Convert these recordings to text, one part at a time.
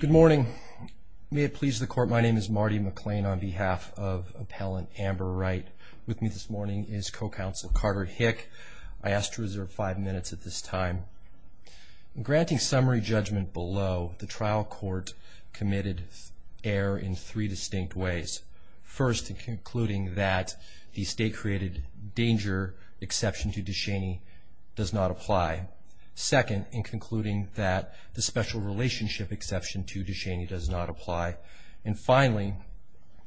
Good morning. May it please the Court, my name is Marty McClain on behalf of Appellant Amber Wright. With me this morning is Co-Counsel Carter Hick. I ask to reserve five minutes at this time. In granting summary judgment below, the trial court committed error in three distinct ways. First, in concluding that the state-created danger exception to Duchenne does not apply. Second, in concluding that the special relationship exception to Duchenne does not apply. And finally,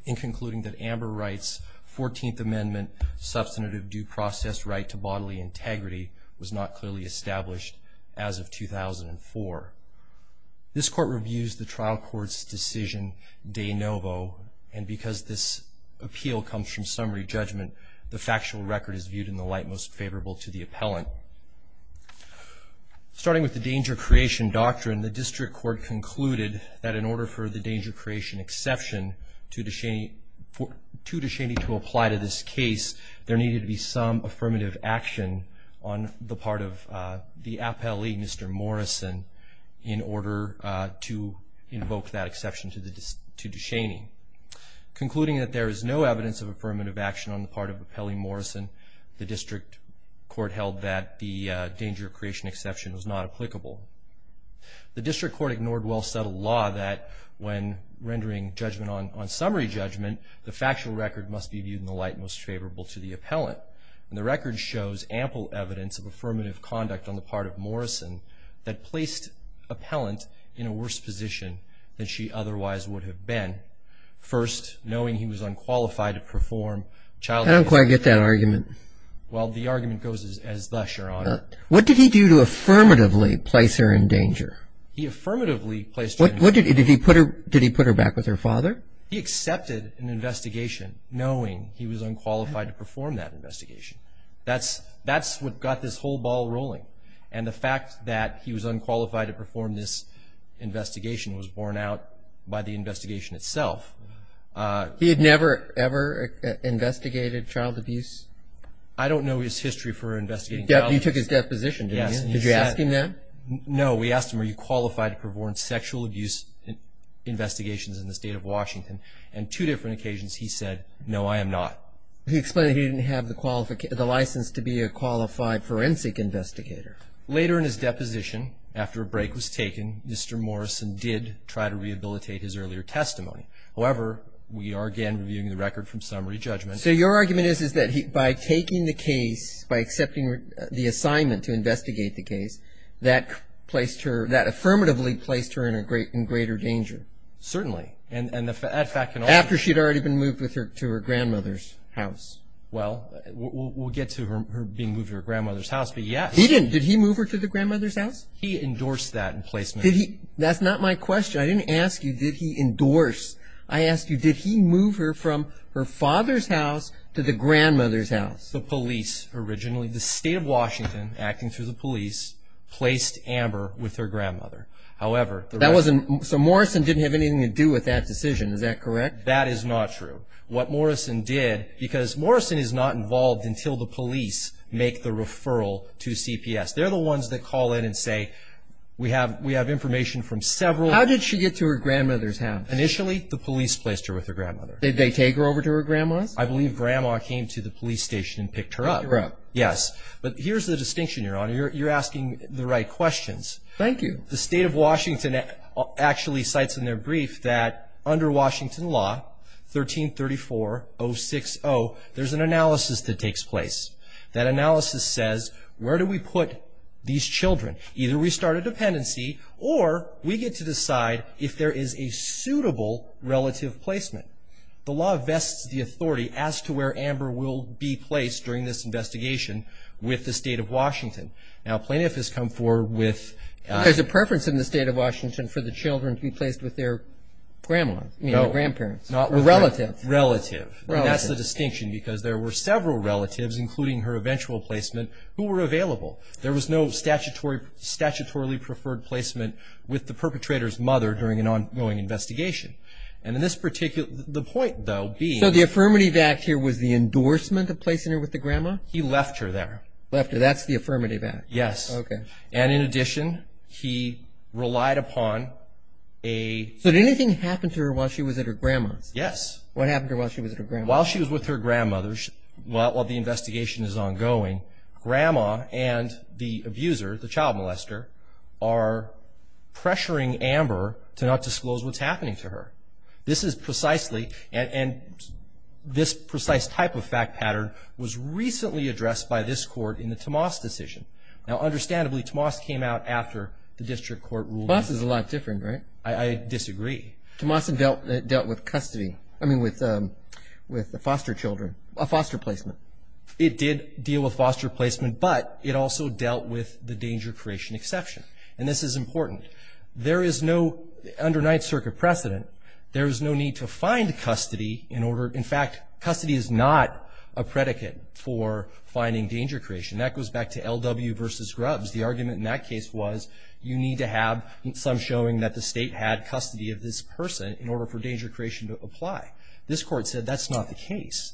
in concluding that Amber Wright's 14th Amendment substantive due process right to bodily integrity was not clearly established as of 2004. This Court reviews the trial court's decision de novo, and because this appeal comes from summary judgment, the factual record is viewed in the light most favorable to the appellant. Starting with the danger creation doctrine, the district court concluded that in order for the danger creation exception to Duchenne to apply to this case, there needed to be some affirmative action on the part of the appellee, Mr. Morrison, in order to invoke that exception to Duchenne. Concluding that there is no evidence of affirmative action on the part of Appellee Morrison, the district court held that the danger creation exception was not applicable. The district court ignored well-settled law that when rendering judgment on summary judgment, the factual record must be viewed in the light most favorable to the appellant. And the record shows ample evidence of affirmative conduct on the part of Morrison that placed appellant in a worse position than she otherwise would have been. First, knowing he was unqualified to perform child- I don't quite get that argument. Well, the argument goes as thus, Your Honor. What did he do to affirmatively place her in danger? He affirmatively placed her in danger. Did he put her back with her father? He accepted an investigation knowing he was unqualified to perform that investigation. That's what got this whole ball rolling. And the fact that he was unqualified to perform this investigation was borne out by the investigation itself. He had never, ever investigated child abuse? I don't know his history for investigating child abuse. You took his deposition, didn't you? Yes. Did you ask him that? No. We asked him, are you qualified to perform sexual abuse investigations in the State of Washington? And two different occasions he said, no, I am not. He explained he didn't have the license to be a qualified forensic investigator. Later in his deposition, after a break was taken, Mr. Morrison did try to rehabilitate his earlier testimony. However, we are again reviewing the record from summary judgment. So your argument is, is that by taking the case, by accepting the assignment to investigate the case, that placed her, that affirmatively placed her in greater danger? Certainly. And the fact can also. After she had already been moved to her grandmother's house. Well, we'll get to her being moved to her grandmother's house, but yes. He didn't. Did he move her to the grandmother's house? He endorsed that placement. Did he? That's not my question. I didn't ask you did he endorse. I asked you, did he move her from her father's house to the grandmother's house? The police originally, the State of Washington, acting through the police, placed Amber with her grandmother. However. That wasn't, so Morrison didn't have anything to do with that decision, is that correct? That is not true. What Morrison did, because Morrison is not involved until the police make the referral to CPS. They're the ones that call in and say, we have information from several. How did she get to her grandmother's house? Initially, the police placed her with her grandmother. Did they take her over to her grandma's? I believe grandma came to the police station and picked her up. Picked her up. Yes. But here's the distinction, Your Honor. You're asking the right questions. Thank you. The State of Washington actually cites in their brief that under Washington law, 1334.06.0, there's an analysis that takes place. That analysis says, where do we put these children? Either we start a dependency or we get to decide if there is a suitable relative placement. The law vests the authority as to where Amber will be placed during this investigation with the State of Washington. Now, plaintiff has come forward with... There's a preference in the State of Washington for the children to be placed with their grandmothers. No. I mean, their grandparents. No. Relative. Relative. That's the distinction, because there were several relatives, including her eventual placement, who were available. There was no statutorily preferred placement with the perpetrator's mother during an ongoing investigation. And in this particular... The point, though, being... So the Affirmative Act here was the endorsement of placing her with the grandma? He left her there. Left her. That's the Affirmative Act. Yes. Okay. And in addition, he relied upon a... So did anything happen to her while she was at her grandma's? Yes. What happened to her while she was at her grandma's? While she was with her grandmother, while the investigation is ongoing, grandma and the abuser, the child molester, are pressuring Amber to not disclose what's happening to her. This is precisely... And this precise type of fact pattern was recently addressed by this court in the Tomas decision. Now, understandably, Tomas came out after the district court ruled... Tomas is a lot different, right? I disagree. Tomas had dealt with custody. I mean with the foster children, a foster placement. It did deal with foster placement, but it also dealt with the danger creation exception. And this is important. There is no... Under Ninth Circuit precedent, there is no need to find custody in order... In fact, custody is not a predicate for finding danger creation. That goes back to L.W. versus Grubbs. The argument in that case was you need to have some showing that the state had custody of this person in order for danger creation to apply. This court said that's not the case.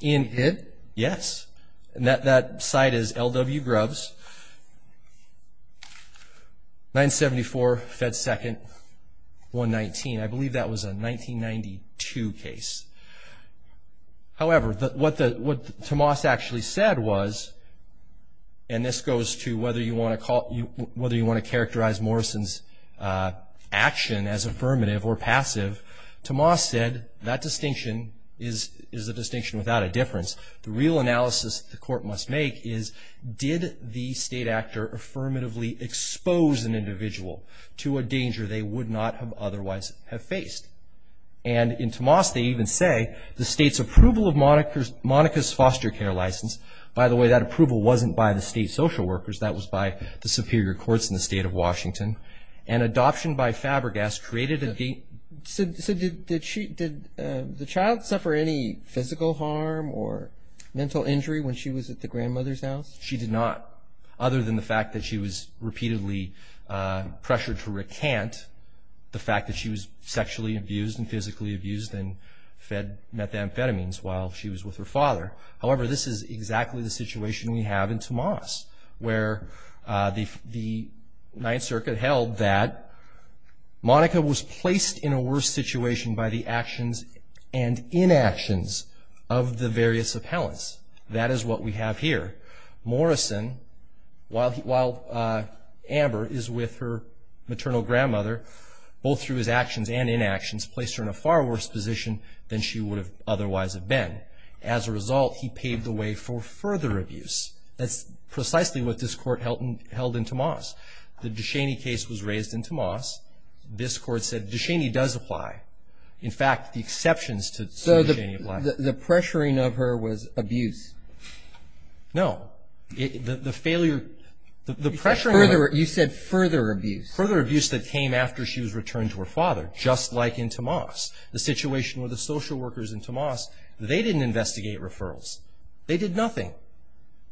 In it, yes. And that site is L.W. Grubbs, 974 Fed 2nd, 119. I believe that was a 1992 case. However, what Tomas actually said was, and this goes to whether you want to characterize Morrison's action as affirmative or passive, Tomas said that distinction is a distinction without a difference. The real analysis the court must make is did the state actor affirmatively expose an individual to a danger they would not have otherwise have faced? And in Tomas, they even say the state's approval of Monica's foster care license. By the way, that approval wasn't by the state social workers. That was by the superior courts in the state of Washington. And adoption by Fabergast created a... So did the child suffer any physical harm or mental injury when she was at the grandmother's house? She did not, other than the fact that she was repeatedly pressured to recant the fact that she was sexually abused and physically abused and fed methamphetamines while she was with her father. However, this is exactly the situation we have in Tomas, where the Ninth Circuit held that Monica was placed in a worse situation by the actions and inactions of the various appellants. That is what we have here. Morrison, while Amber is with her maternal grandmother, both through his actions and inactions, placed her in a far worse position than she would have otherwise have been. As a result, he paved the way for further abuse. That's precisely what this Court held in Tomas. The Descheny case was raised in Tomas. This Court said Descheny does apply. In fact, the exceptions to Descheny apply. So the pressuring of her was abuse? No. The failure... You said further abuse. Further abuse that came after she was returned to her father, just like in Tomas. The situation with the social workers in Tomas, they didn't investigate referrals. They did nothing.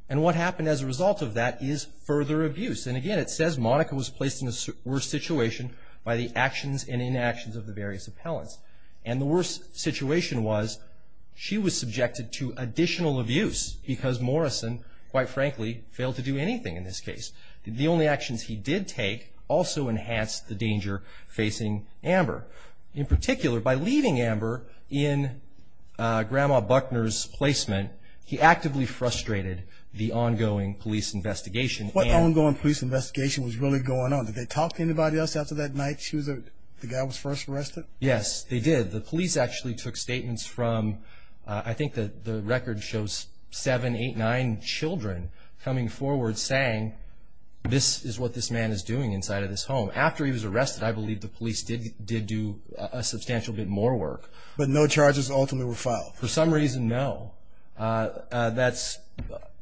And what happened as a result of that is further abuse. And again, it says Monica was placed in a worse situation by the actions and inactions of the various appellants. And the worse situation was she was subjected to additional abuse because Morrison, quite frankly, failed to do anything in this case. The only actions he did take also enhanced the danger facing Amber. In particular, by leaving Amber in Grandma Buckner's placement, he actively frustrated the ongoing police investigation. What ongoing police investigation was really going on? Did they talk to anybody else after that night? The guy was first arrested? Yes, they did. The police actually took statements from, I think the record shows, seven, eight, nine children coming forward saying, this is what this man is doing inside of this home. After he was arrested, I believe the police did do a substantial bit more work. But no charges ultimately were filed? For some reason, no. That's,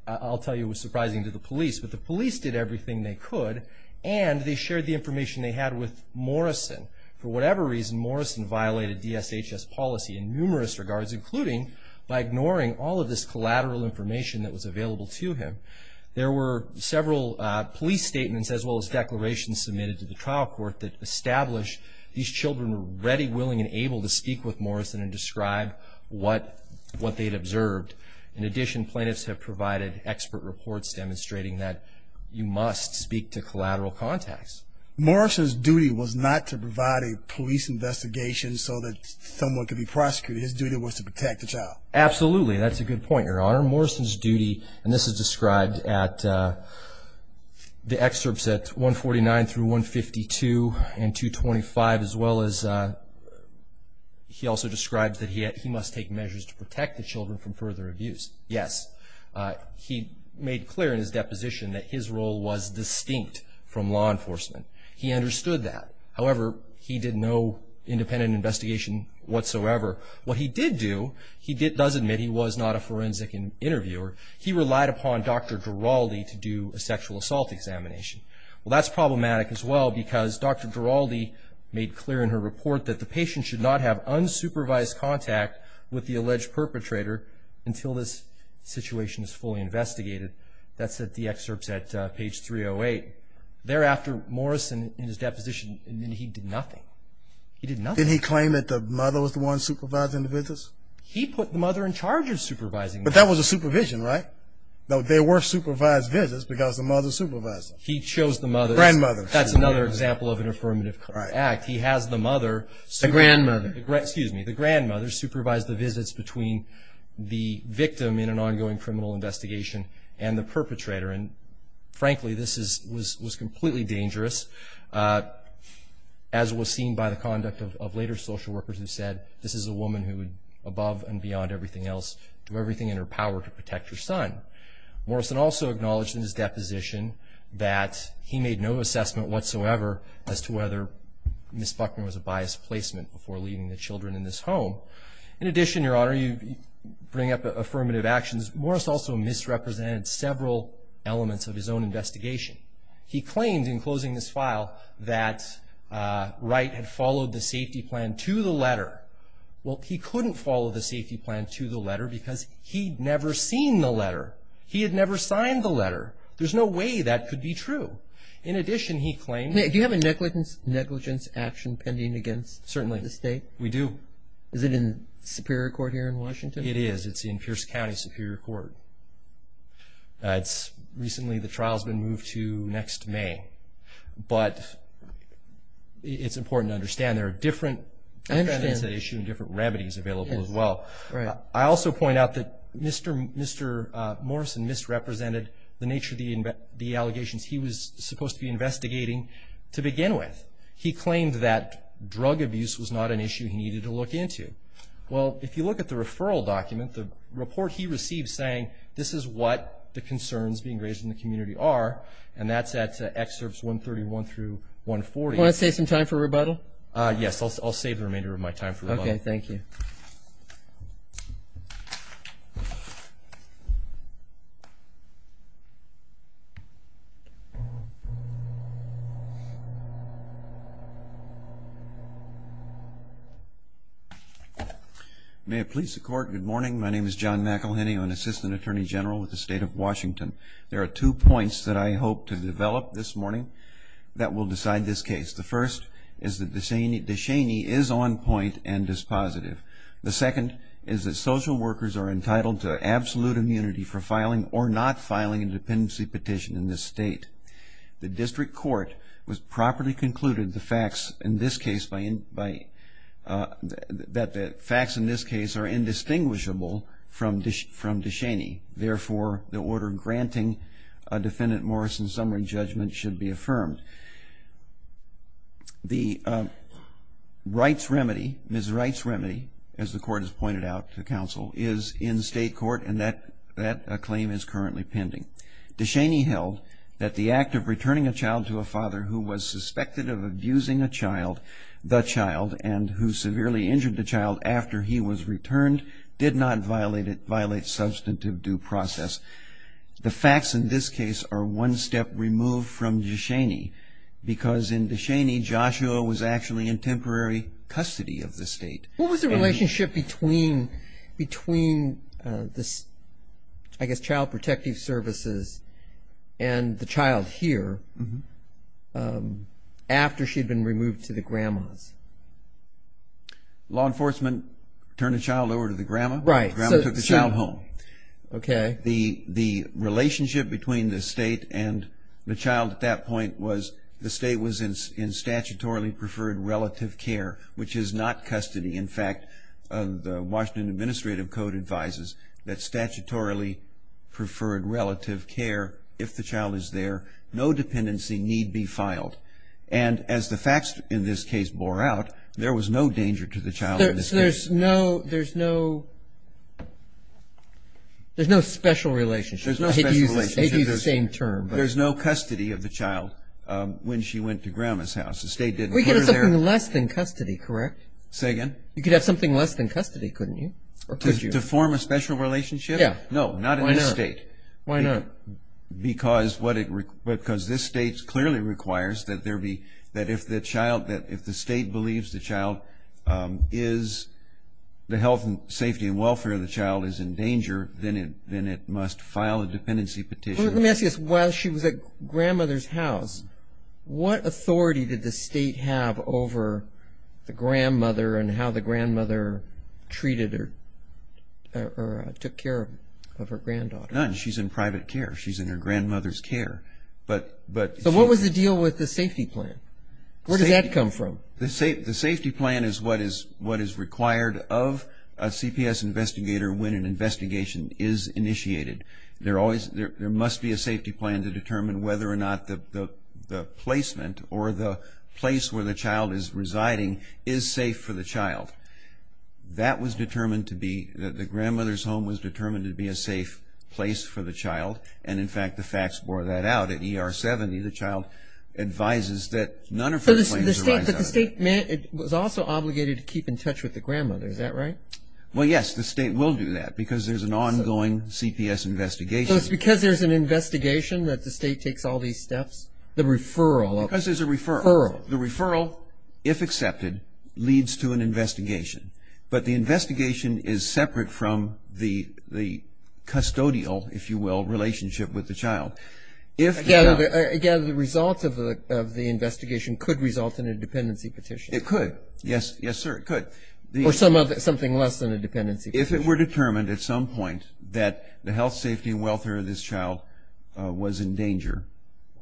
I'll tell you, surprising to the police. But the police did everything they could, and they shared the information they had with Morrison. For whatever reason, Morrison violated DSHS policy in numerous regards, including by ignoring all of this collateral information that was available to him. There were several police statements as well as declarations submitted to the trial court that established these children were ready, willing, and able to speak with Morrison and describe what they'd observed. In addition, plaintiffs have provided expert reports demonstrating that you must speak to collateral contacts. Morrison's duty was not to provide a police investigation so that someone could be prosecuted. His duty was to protect the child. Absolutely. That's a good point, Your Honor. Morrison's duty, and this is described at the excerpts at 149 through 152 and 225, as well as he also describes that he must take measures to protect the children from further abuse. Yes, he made clear in his deposition that his role was distinct from law enforcement. He understood that. However, he did no independent investigation whatsoever. What he did do, he does admit he was not a forensic interviewer. He relied upon Dr. Giraldi to do a sexual assault examination. Well, that's problematic as well because Dr. Giraldi made clear in her report that the patient should not have unsupervised contact with the alleged perpetrator until this situation is fully investigated. That's at the excerpts at page 308. Thereafter, Morrison, in his deposition, he did nothing. He did nothing. Didn't he claim that the mother was the one supervising the visits? He put the mother in charge of supervising them. But that was a supervision, right? No, they were supervised visits because the mother supervised them. He chose the mother. Grandmother. That's another example of an affirmative act. He has the mother. The grandmother. Excuse me. The grandmother supervised the visits between the victim in an ongoing criminal investigation and the perpetrator. And, frankly, this was completely dangerous, as was seen by the conduct of later social workers who said, this is a woman who would, above and beyond everything else, do everything in her power to protect her son. Morrison also acknowledged in his deposition that he made no assessment whatsoever as to whether Ms. Buckner was a biased placement before leaving the children in this home. In addition, Your Honor, you bring up affirmative actions. Morris also misrepresented several elements of his own investigation. He claimed in closing this file that Wright had followed the safety plan to the letter. Well, he couldn't follow the safety plan to the letter because he'd never seen the letter. He had never signed the letter. There's no way that could be true. In addition, he claimed that he had a negligence action pending against the state. Certainly. We do. Is it in Superior Court here in Washington? It is. It's in Pierce County Superior Court. It's recently, the trial's been moved to next May. But it's important to understand there are different remedies available as well. I also point out that Mr. Morrison misrepresented the nature of the allegations he was supposed to be investigating to begin with. He claimed that drug abuse was not an issue he needed to look into. Well, if you look at the referral document, the report he received saying this is what the concerns being raised in the community are, and that's at Excerpts 131 through 140. Want to save some time for rebuttal? Yes, I'll save the remainder of my time for rebuttal. Okay, thank you. May it please the Court, good morning. My name is John McElhenney. I'm an Assistant Attorney General with the State of Washington. There are two points that I hope to develop this morning that will decide this case. The first is that DeShaney is on point and is positive. The second is that social workers are entitled to absolute immunity for filing or not filing a dependency petition in this state. The district court has properly concluded the facts in this case by that the facts in this case are indistinguishable from DeShaney. Therefore, the order granting a defendant Morrison summary judgment should be affirmed. The rights remedy, his rights remedy, as the court has pointed out to counsel, is in state court, and that claim is currently pending. DeShaney held that the act of returning a child to a father who was suspected of abusing a child, the child, and who severely injured the child after he was returned, did not violate substantive due process. The facts in this case are one step removed from DeShaney, because in DeShaney Joshua was actually in temporary custody of the state. What was the relationship between this, I guess, child protective services and the child here after she had been removed to the grandma's? Law enforcement turned the child over to the grandma. Right. The grandma took the child home. Okay. The relationship between the state and the child at that point was the state was in fact the Washington Administrative Code advises that statutorily preferred relative care if the child is there, no dependency need be filed. And as the facts in this case bore out, there was no danger to the child in this case. So there's no special relationship. There's no special relationship. I hate to use the same term. There's no custody of the child when she went to grandma's house. The state didn't put her there. We get something less than custody, correct? Say again? You could have something less than custody, couldn't you? To form a special relationship? Yeah. No, not in this state. Why not? Because this state clearly requires that if the state believes the child is, the health and safety and welfare of the child is in danger, then it must file a dependency petition. Let me ask you this. While she was at grandmother's house, what authority did the state have over the grandmother and how the grandmother treated or took care of her granddaughter? None. She's in private care. She's in her grandmother's care. So what was the deal with the safety plan? Where does that come from? The safety plan is what is required of a CPS investigator when an investigation is initiated. There must be a safety plan to determine whether or not the placement or the place where the child is residing is safe for the child. That was determined to be, the grandmother's home was determined to be a safe place for the child, and, in fact, the facts bore that out. At ER 70, the child advises that none of her claims arise out of it. But the state was also obligated to keep in touch with the grandmother. Is that right? Well, yes. The state will do that because there's an ongoing CPS investigation. So it's because there's an investigation that the state takes all these steps? The referral. Because there's a referral. Referral. The referral, if accepted, leads to an investigation. But the investigation is separate from the custodial, if you will, relationship with the child. Again, the result of the investigation could result in a dependency petition. It could. Yes, sir, it could. Or something less than a dependency petition. If it were determined at some point that the health, safety, and welfare of this child was in danger,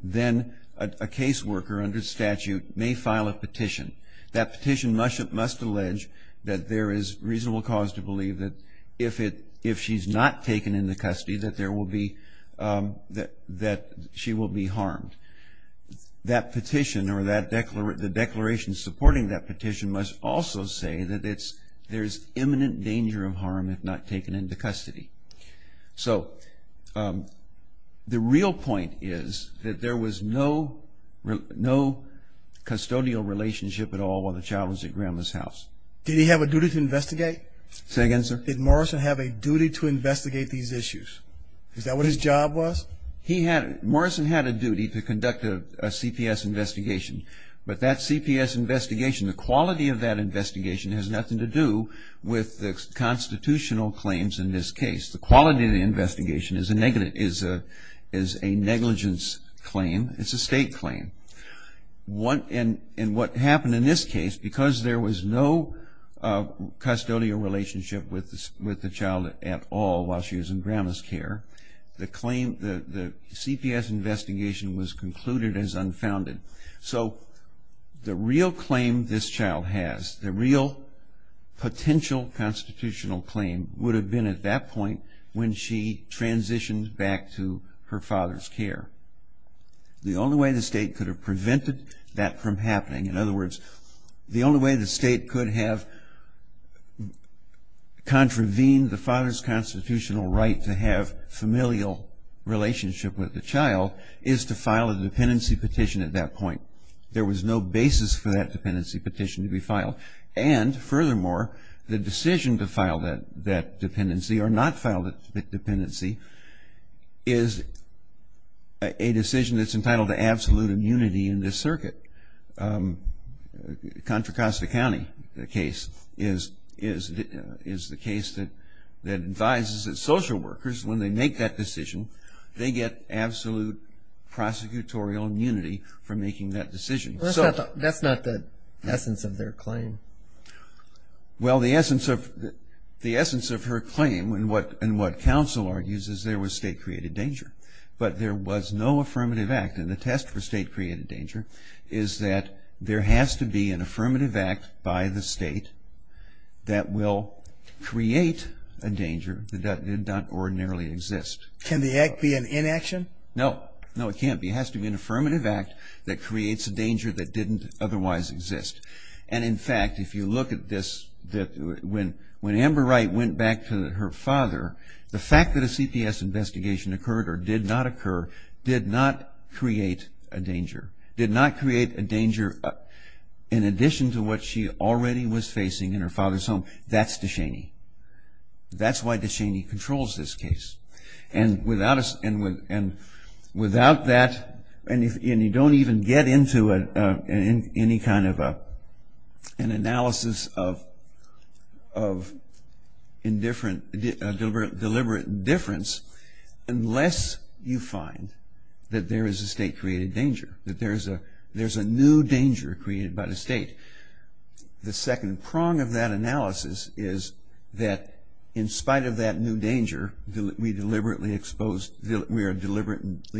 then a caseworker under statute may file a petition. That petition must allege that there is reasonable cause to believe that if she's not taken into custody, that she will be harmed. That petition, or the declaration supporting that petition, must also say that there's imminent danger of harm if not taken into custody. So the real point is that there was no custodial relationship at all while the child was at Grandma's house. Did he have a duty to investigate? Say again, sir. Did Morrison have a duty to investigate these issues? Is that what his job was? Morrison had a duty to conduct a CPS investigation. But that CPS investigation, the quality of that investigation, has nothing to do with the constitutional claims in this case. The quality of the investigation is a negligence claim. It's a state claim. And what happened in this case, because there was no custodial relationship with the child at all while she was in Grandma's care, the CPS investigation was concluded as unfounded. So the real claim this child has, the real potential constitutional claim, would have been at that point when she transitioned back to her father's care. The only way the state could have prevented that from happening, in other words, the only way the state could have contravened the father's constitutional right to have familial relationship with the child is to file a dependency petition at that point. There was no basis for that dependency petition to be filed. And furthermore, the decision to file that dependency or not file that dependency is a decision that's entitled to absolute immunity in this circuit. Contra Costa County case is the case that advises that social workers, when they make that decision, they get absolute prosecutorial immunity for making that decision. That's not the essence of their claim. Well, the essence of her claim and what counsel argues is there was state-created danger. But there was no affirmative act. And the test for state-created danger is that there has to be an affirmative act by the state that will create a danger that did not ordinarily exist. Can the act be an inaction? No. No, it can't be. It has to be an affirmative act that creates a danger that didn't otherwise exist. And, in fact, if you look at this, when Amber Wright went back to her father, the fact that a CPS investigation occurred or did not occur did not create a danger, did not create a danger in addition to what she already was facing in her father's home. That's DeShaney. That's why DeShaney controls this case. And without that, and you don't even get into any kind of an analysis of deliberate indifference unless you find that there is a state-created danger, that there's a new danger created by the state. The second prong of that analysis is that in spite of that new danger, we are deliberately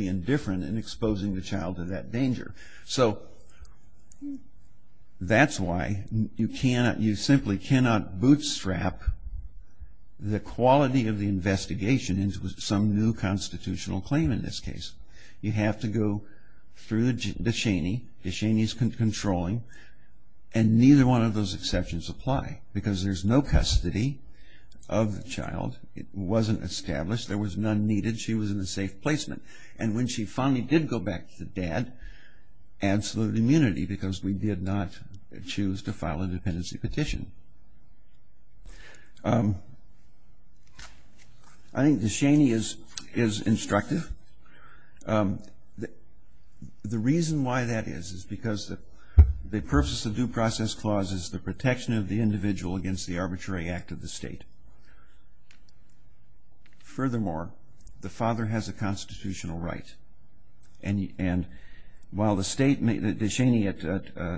indifferent in exposing the child to that danger. So that's why you simply cannot bootstrap the quality of the investigation into some new constitutional claim in this case. You have to go through DeShaney. DeShaney is controlling, and neither one of those exceptions apply because there's no custody of the child. It wasn't established. There was none needed. She was in a safe placement. And when she finally did go back to the dad, absolute immunity because we did not choose to file a dependency petition. I think DeShaney is instructive. The reason why that is is because the purpose of due process clause is the protection of the individual against the arbitrary act of the state. Furthermore, the father has a constitutional right. And while the state, DeShaney at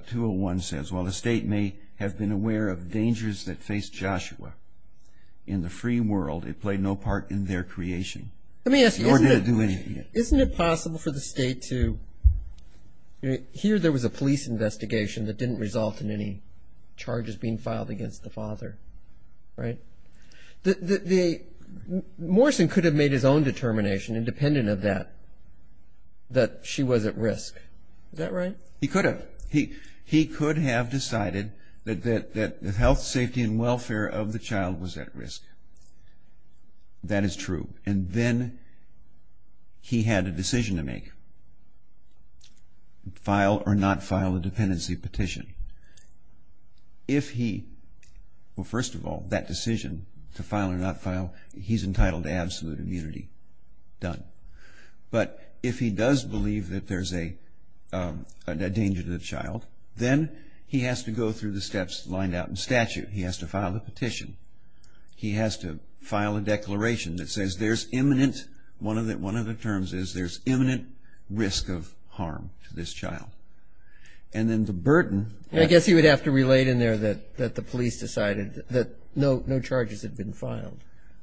201 says, while the state may have been aware of dangers that face Joshua in the free world, they play no part in their creation. Let me ask you, isn't it possible for the state to, here there was a police investigation that didn't result in any charges being filed against the father, right? Morrison could have made his own determination independent of that, that she was at risk. Is that right? He could have. He could have decided that the health, safety, and welfare of the child was at risk. That is true. And then he had a decision to make, file or not file a dependency petition. If he, well, first of all, that decision to file or not file, he's entitled to absolute immunity, done. But if he does believe that there's a danger to the child, then he has to go through the steps lined out in statute. He has to file a petition. He has to file a declaration that says there's imminent, one of the terms is there's imminent risk of harm to this child. And then the burden. I guess he would have to relate in there that the police decided that no charges had been filed.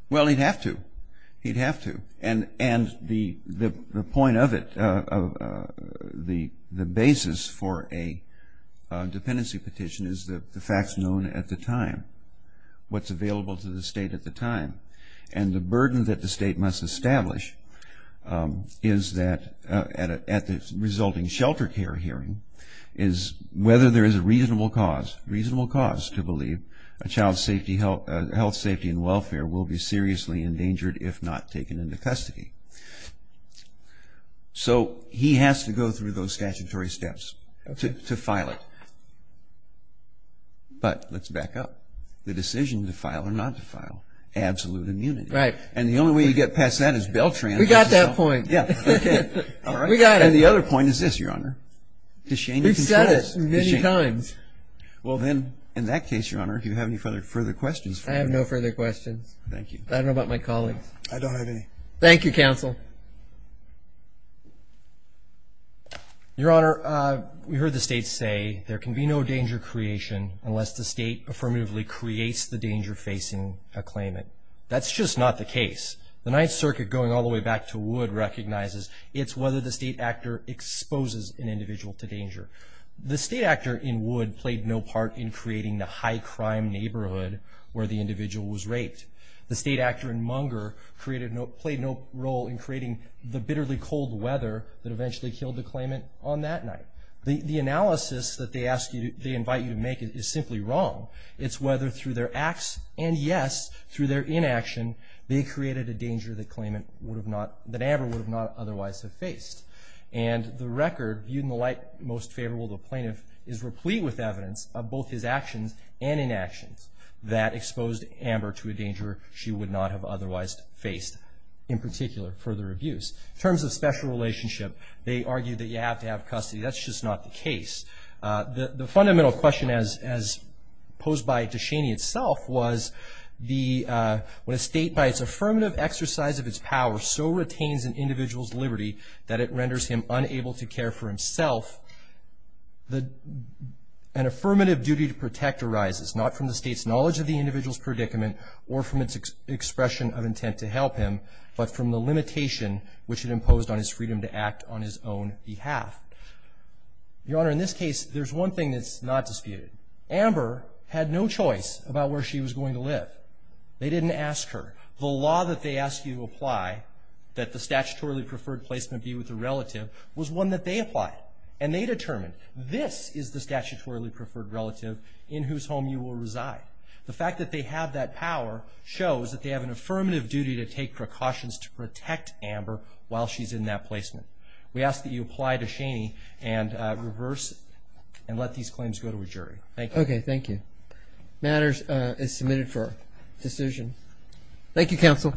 Well, he'd have to. He'd have to. And the point of it, the basis for a dependency petition is the facts known at the time, what's available to the state at the time. And the burden that the state must establish is that at the resulting shelter care hearing is whether there is a reasonable cause, reasonable cause to believe a child's health, safety, and welfare will be seriously endangered if not taken into custody. So he has to go through those statutory steps to file it. But let's back up. The decision to file or not to file, absolute immunity. Right. And the only way you get past that is Beltran. We got that point. Yeah. Okay. All right. We got it. And the other point is this, Your Honor. We've said it many times. Well, then, in that case, Your Honor, do you have any further questions? I have no further questions. Thank you. I don't know about my colleagues. I don't have any. Thank you, counsel. Your Honor, we heard the state say there can be no danger creation unless the state affirmatively creates the danger-facing claimant. That's just not the case. The Ninth Circuit, going all the way back to Wood, recognizes it's whether the state actor exposes an individual to danger. The state actor in Wood played no part in creating the high-crime neighborhood where the individual was raped. The state actor in Munger played no role in creating the bitterly cold weather that eventually killed the claimant on that night. The analysis that they invite you to make is simply wrong. It's whether through their acts and, yes, through their inaction, they created a danger that Amber would not otherwise have faced. And the record, viewed in the light most favorable to a plaintiff, is replete with evidence of both his actions and inactions. That exposed Amber to a danger she would not have otherwise faced, in particular, further abuse. In terms of special relationship, they argue that you have to have custody. That's just not the case. The fundamental question, as posed by DeShaney itself, was when a state, by its affirmative exercise of its power, so retains an individual's liberty that it renders him unable to care for himself, an affirmative duty to protect arises, not from the state's knowledge of the individual's predicament or from its expression of intent to help him, but from the limitation which it imposed on his freedom to act on his own behalf. Your Honor, in this case, there's one thing that's not disputed. Amber had no choice about where she was going to live. They didn't ask her. The law that they ask you to apply, that the statutorily preferred placement be with a relative, was one that they applied, and they determined, this is the statutorily preferred relative in whose home you will reside. The fact that they have that power shows that they have an affirmative duty to take precautions to protect Amber while she's in that placement. We ask that you apply DeShaney and reverse and let these claims go to a jury. Thank you. Okay, thank you. Matters is submitted for decision. Thank you, counsel.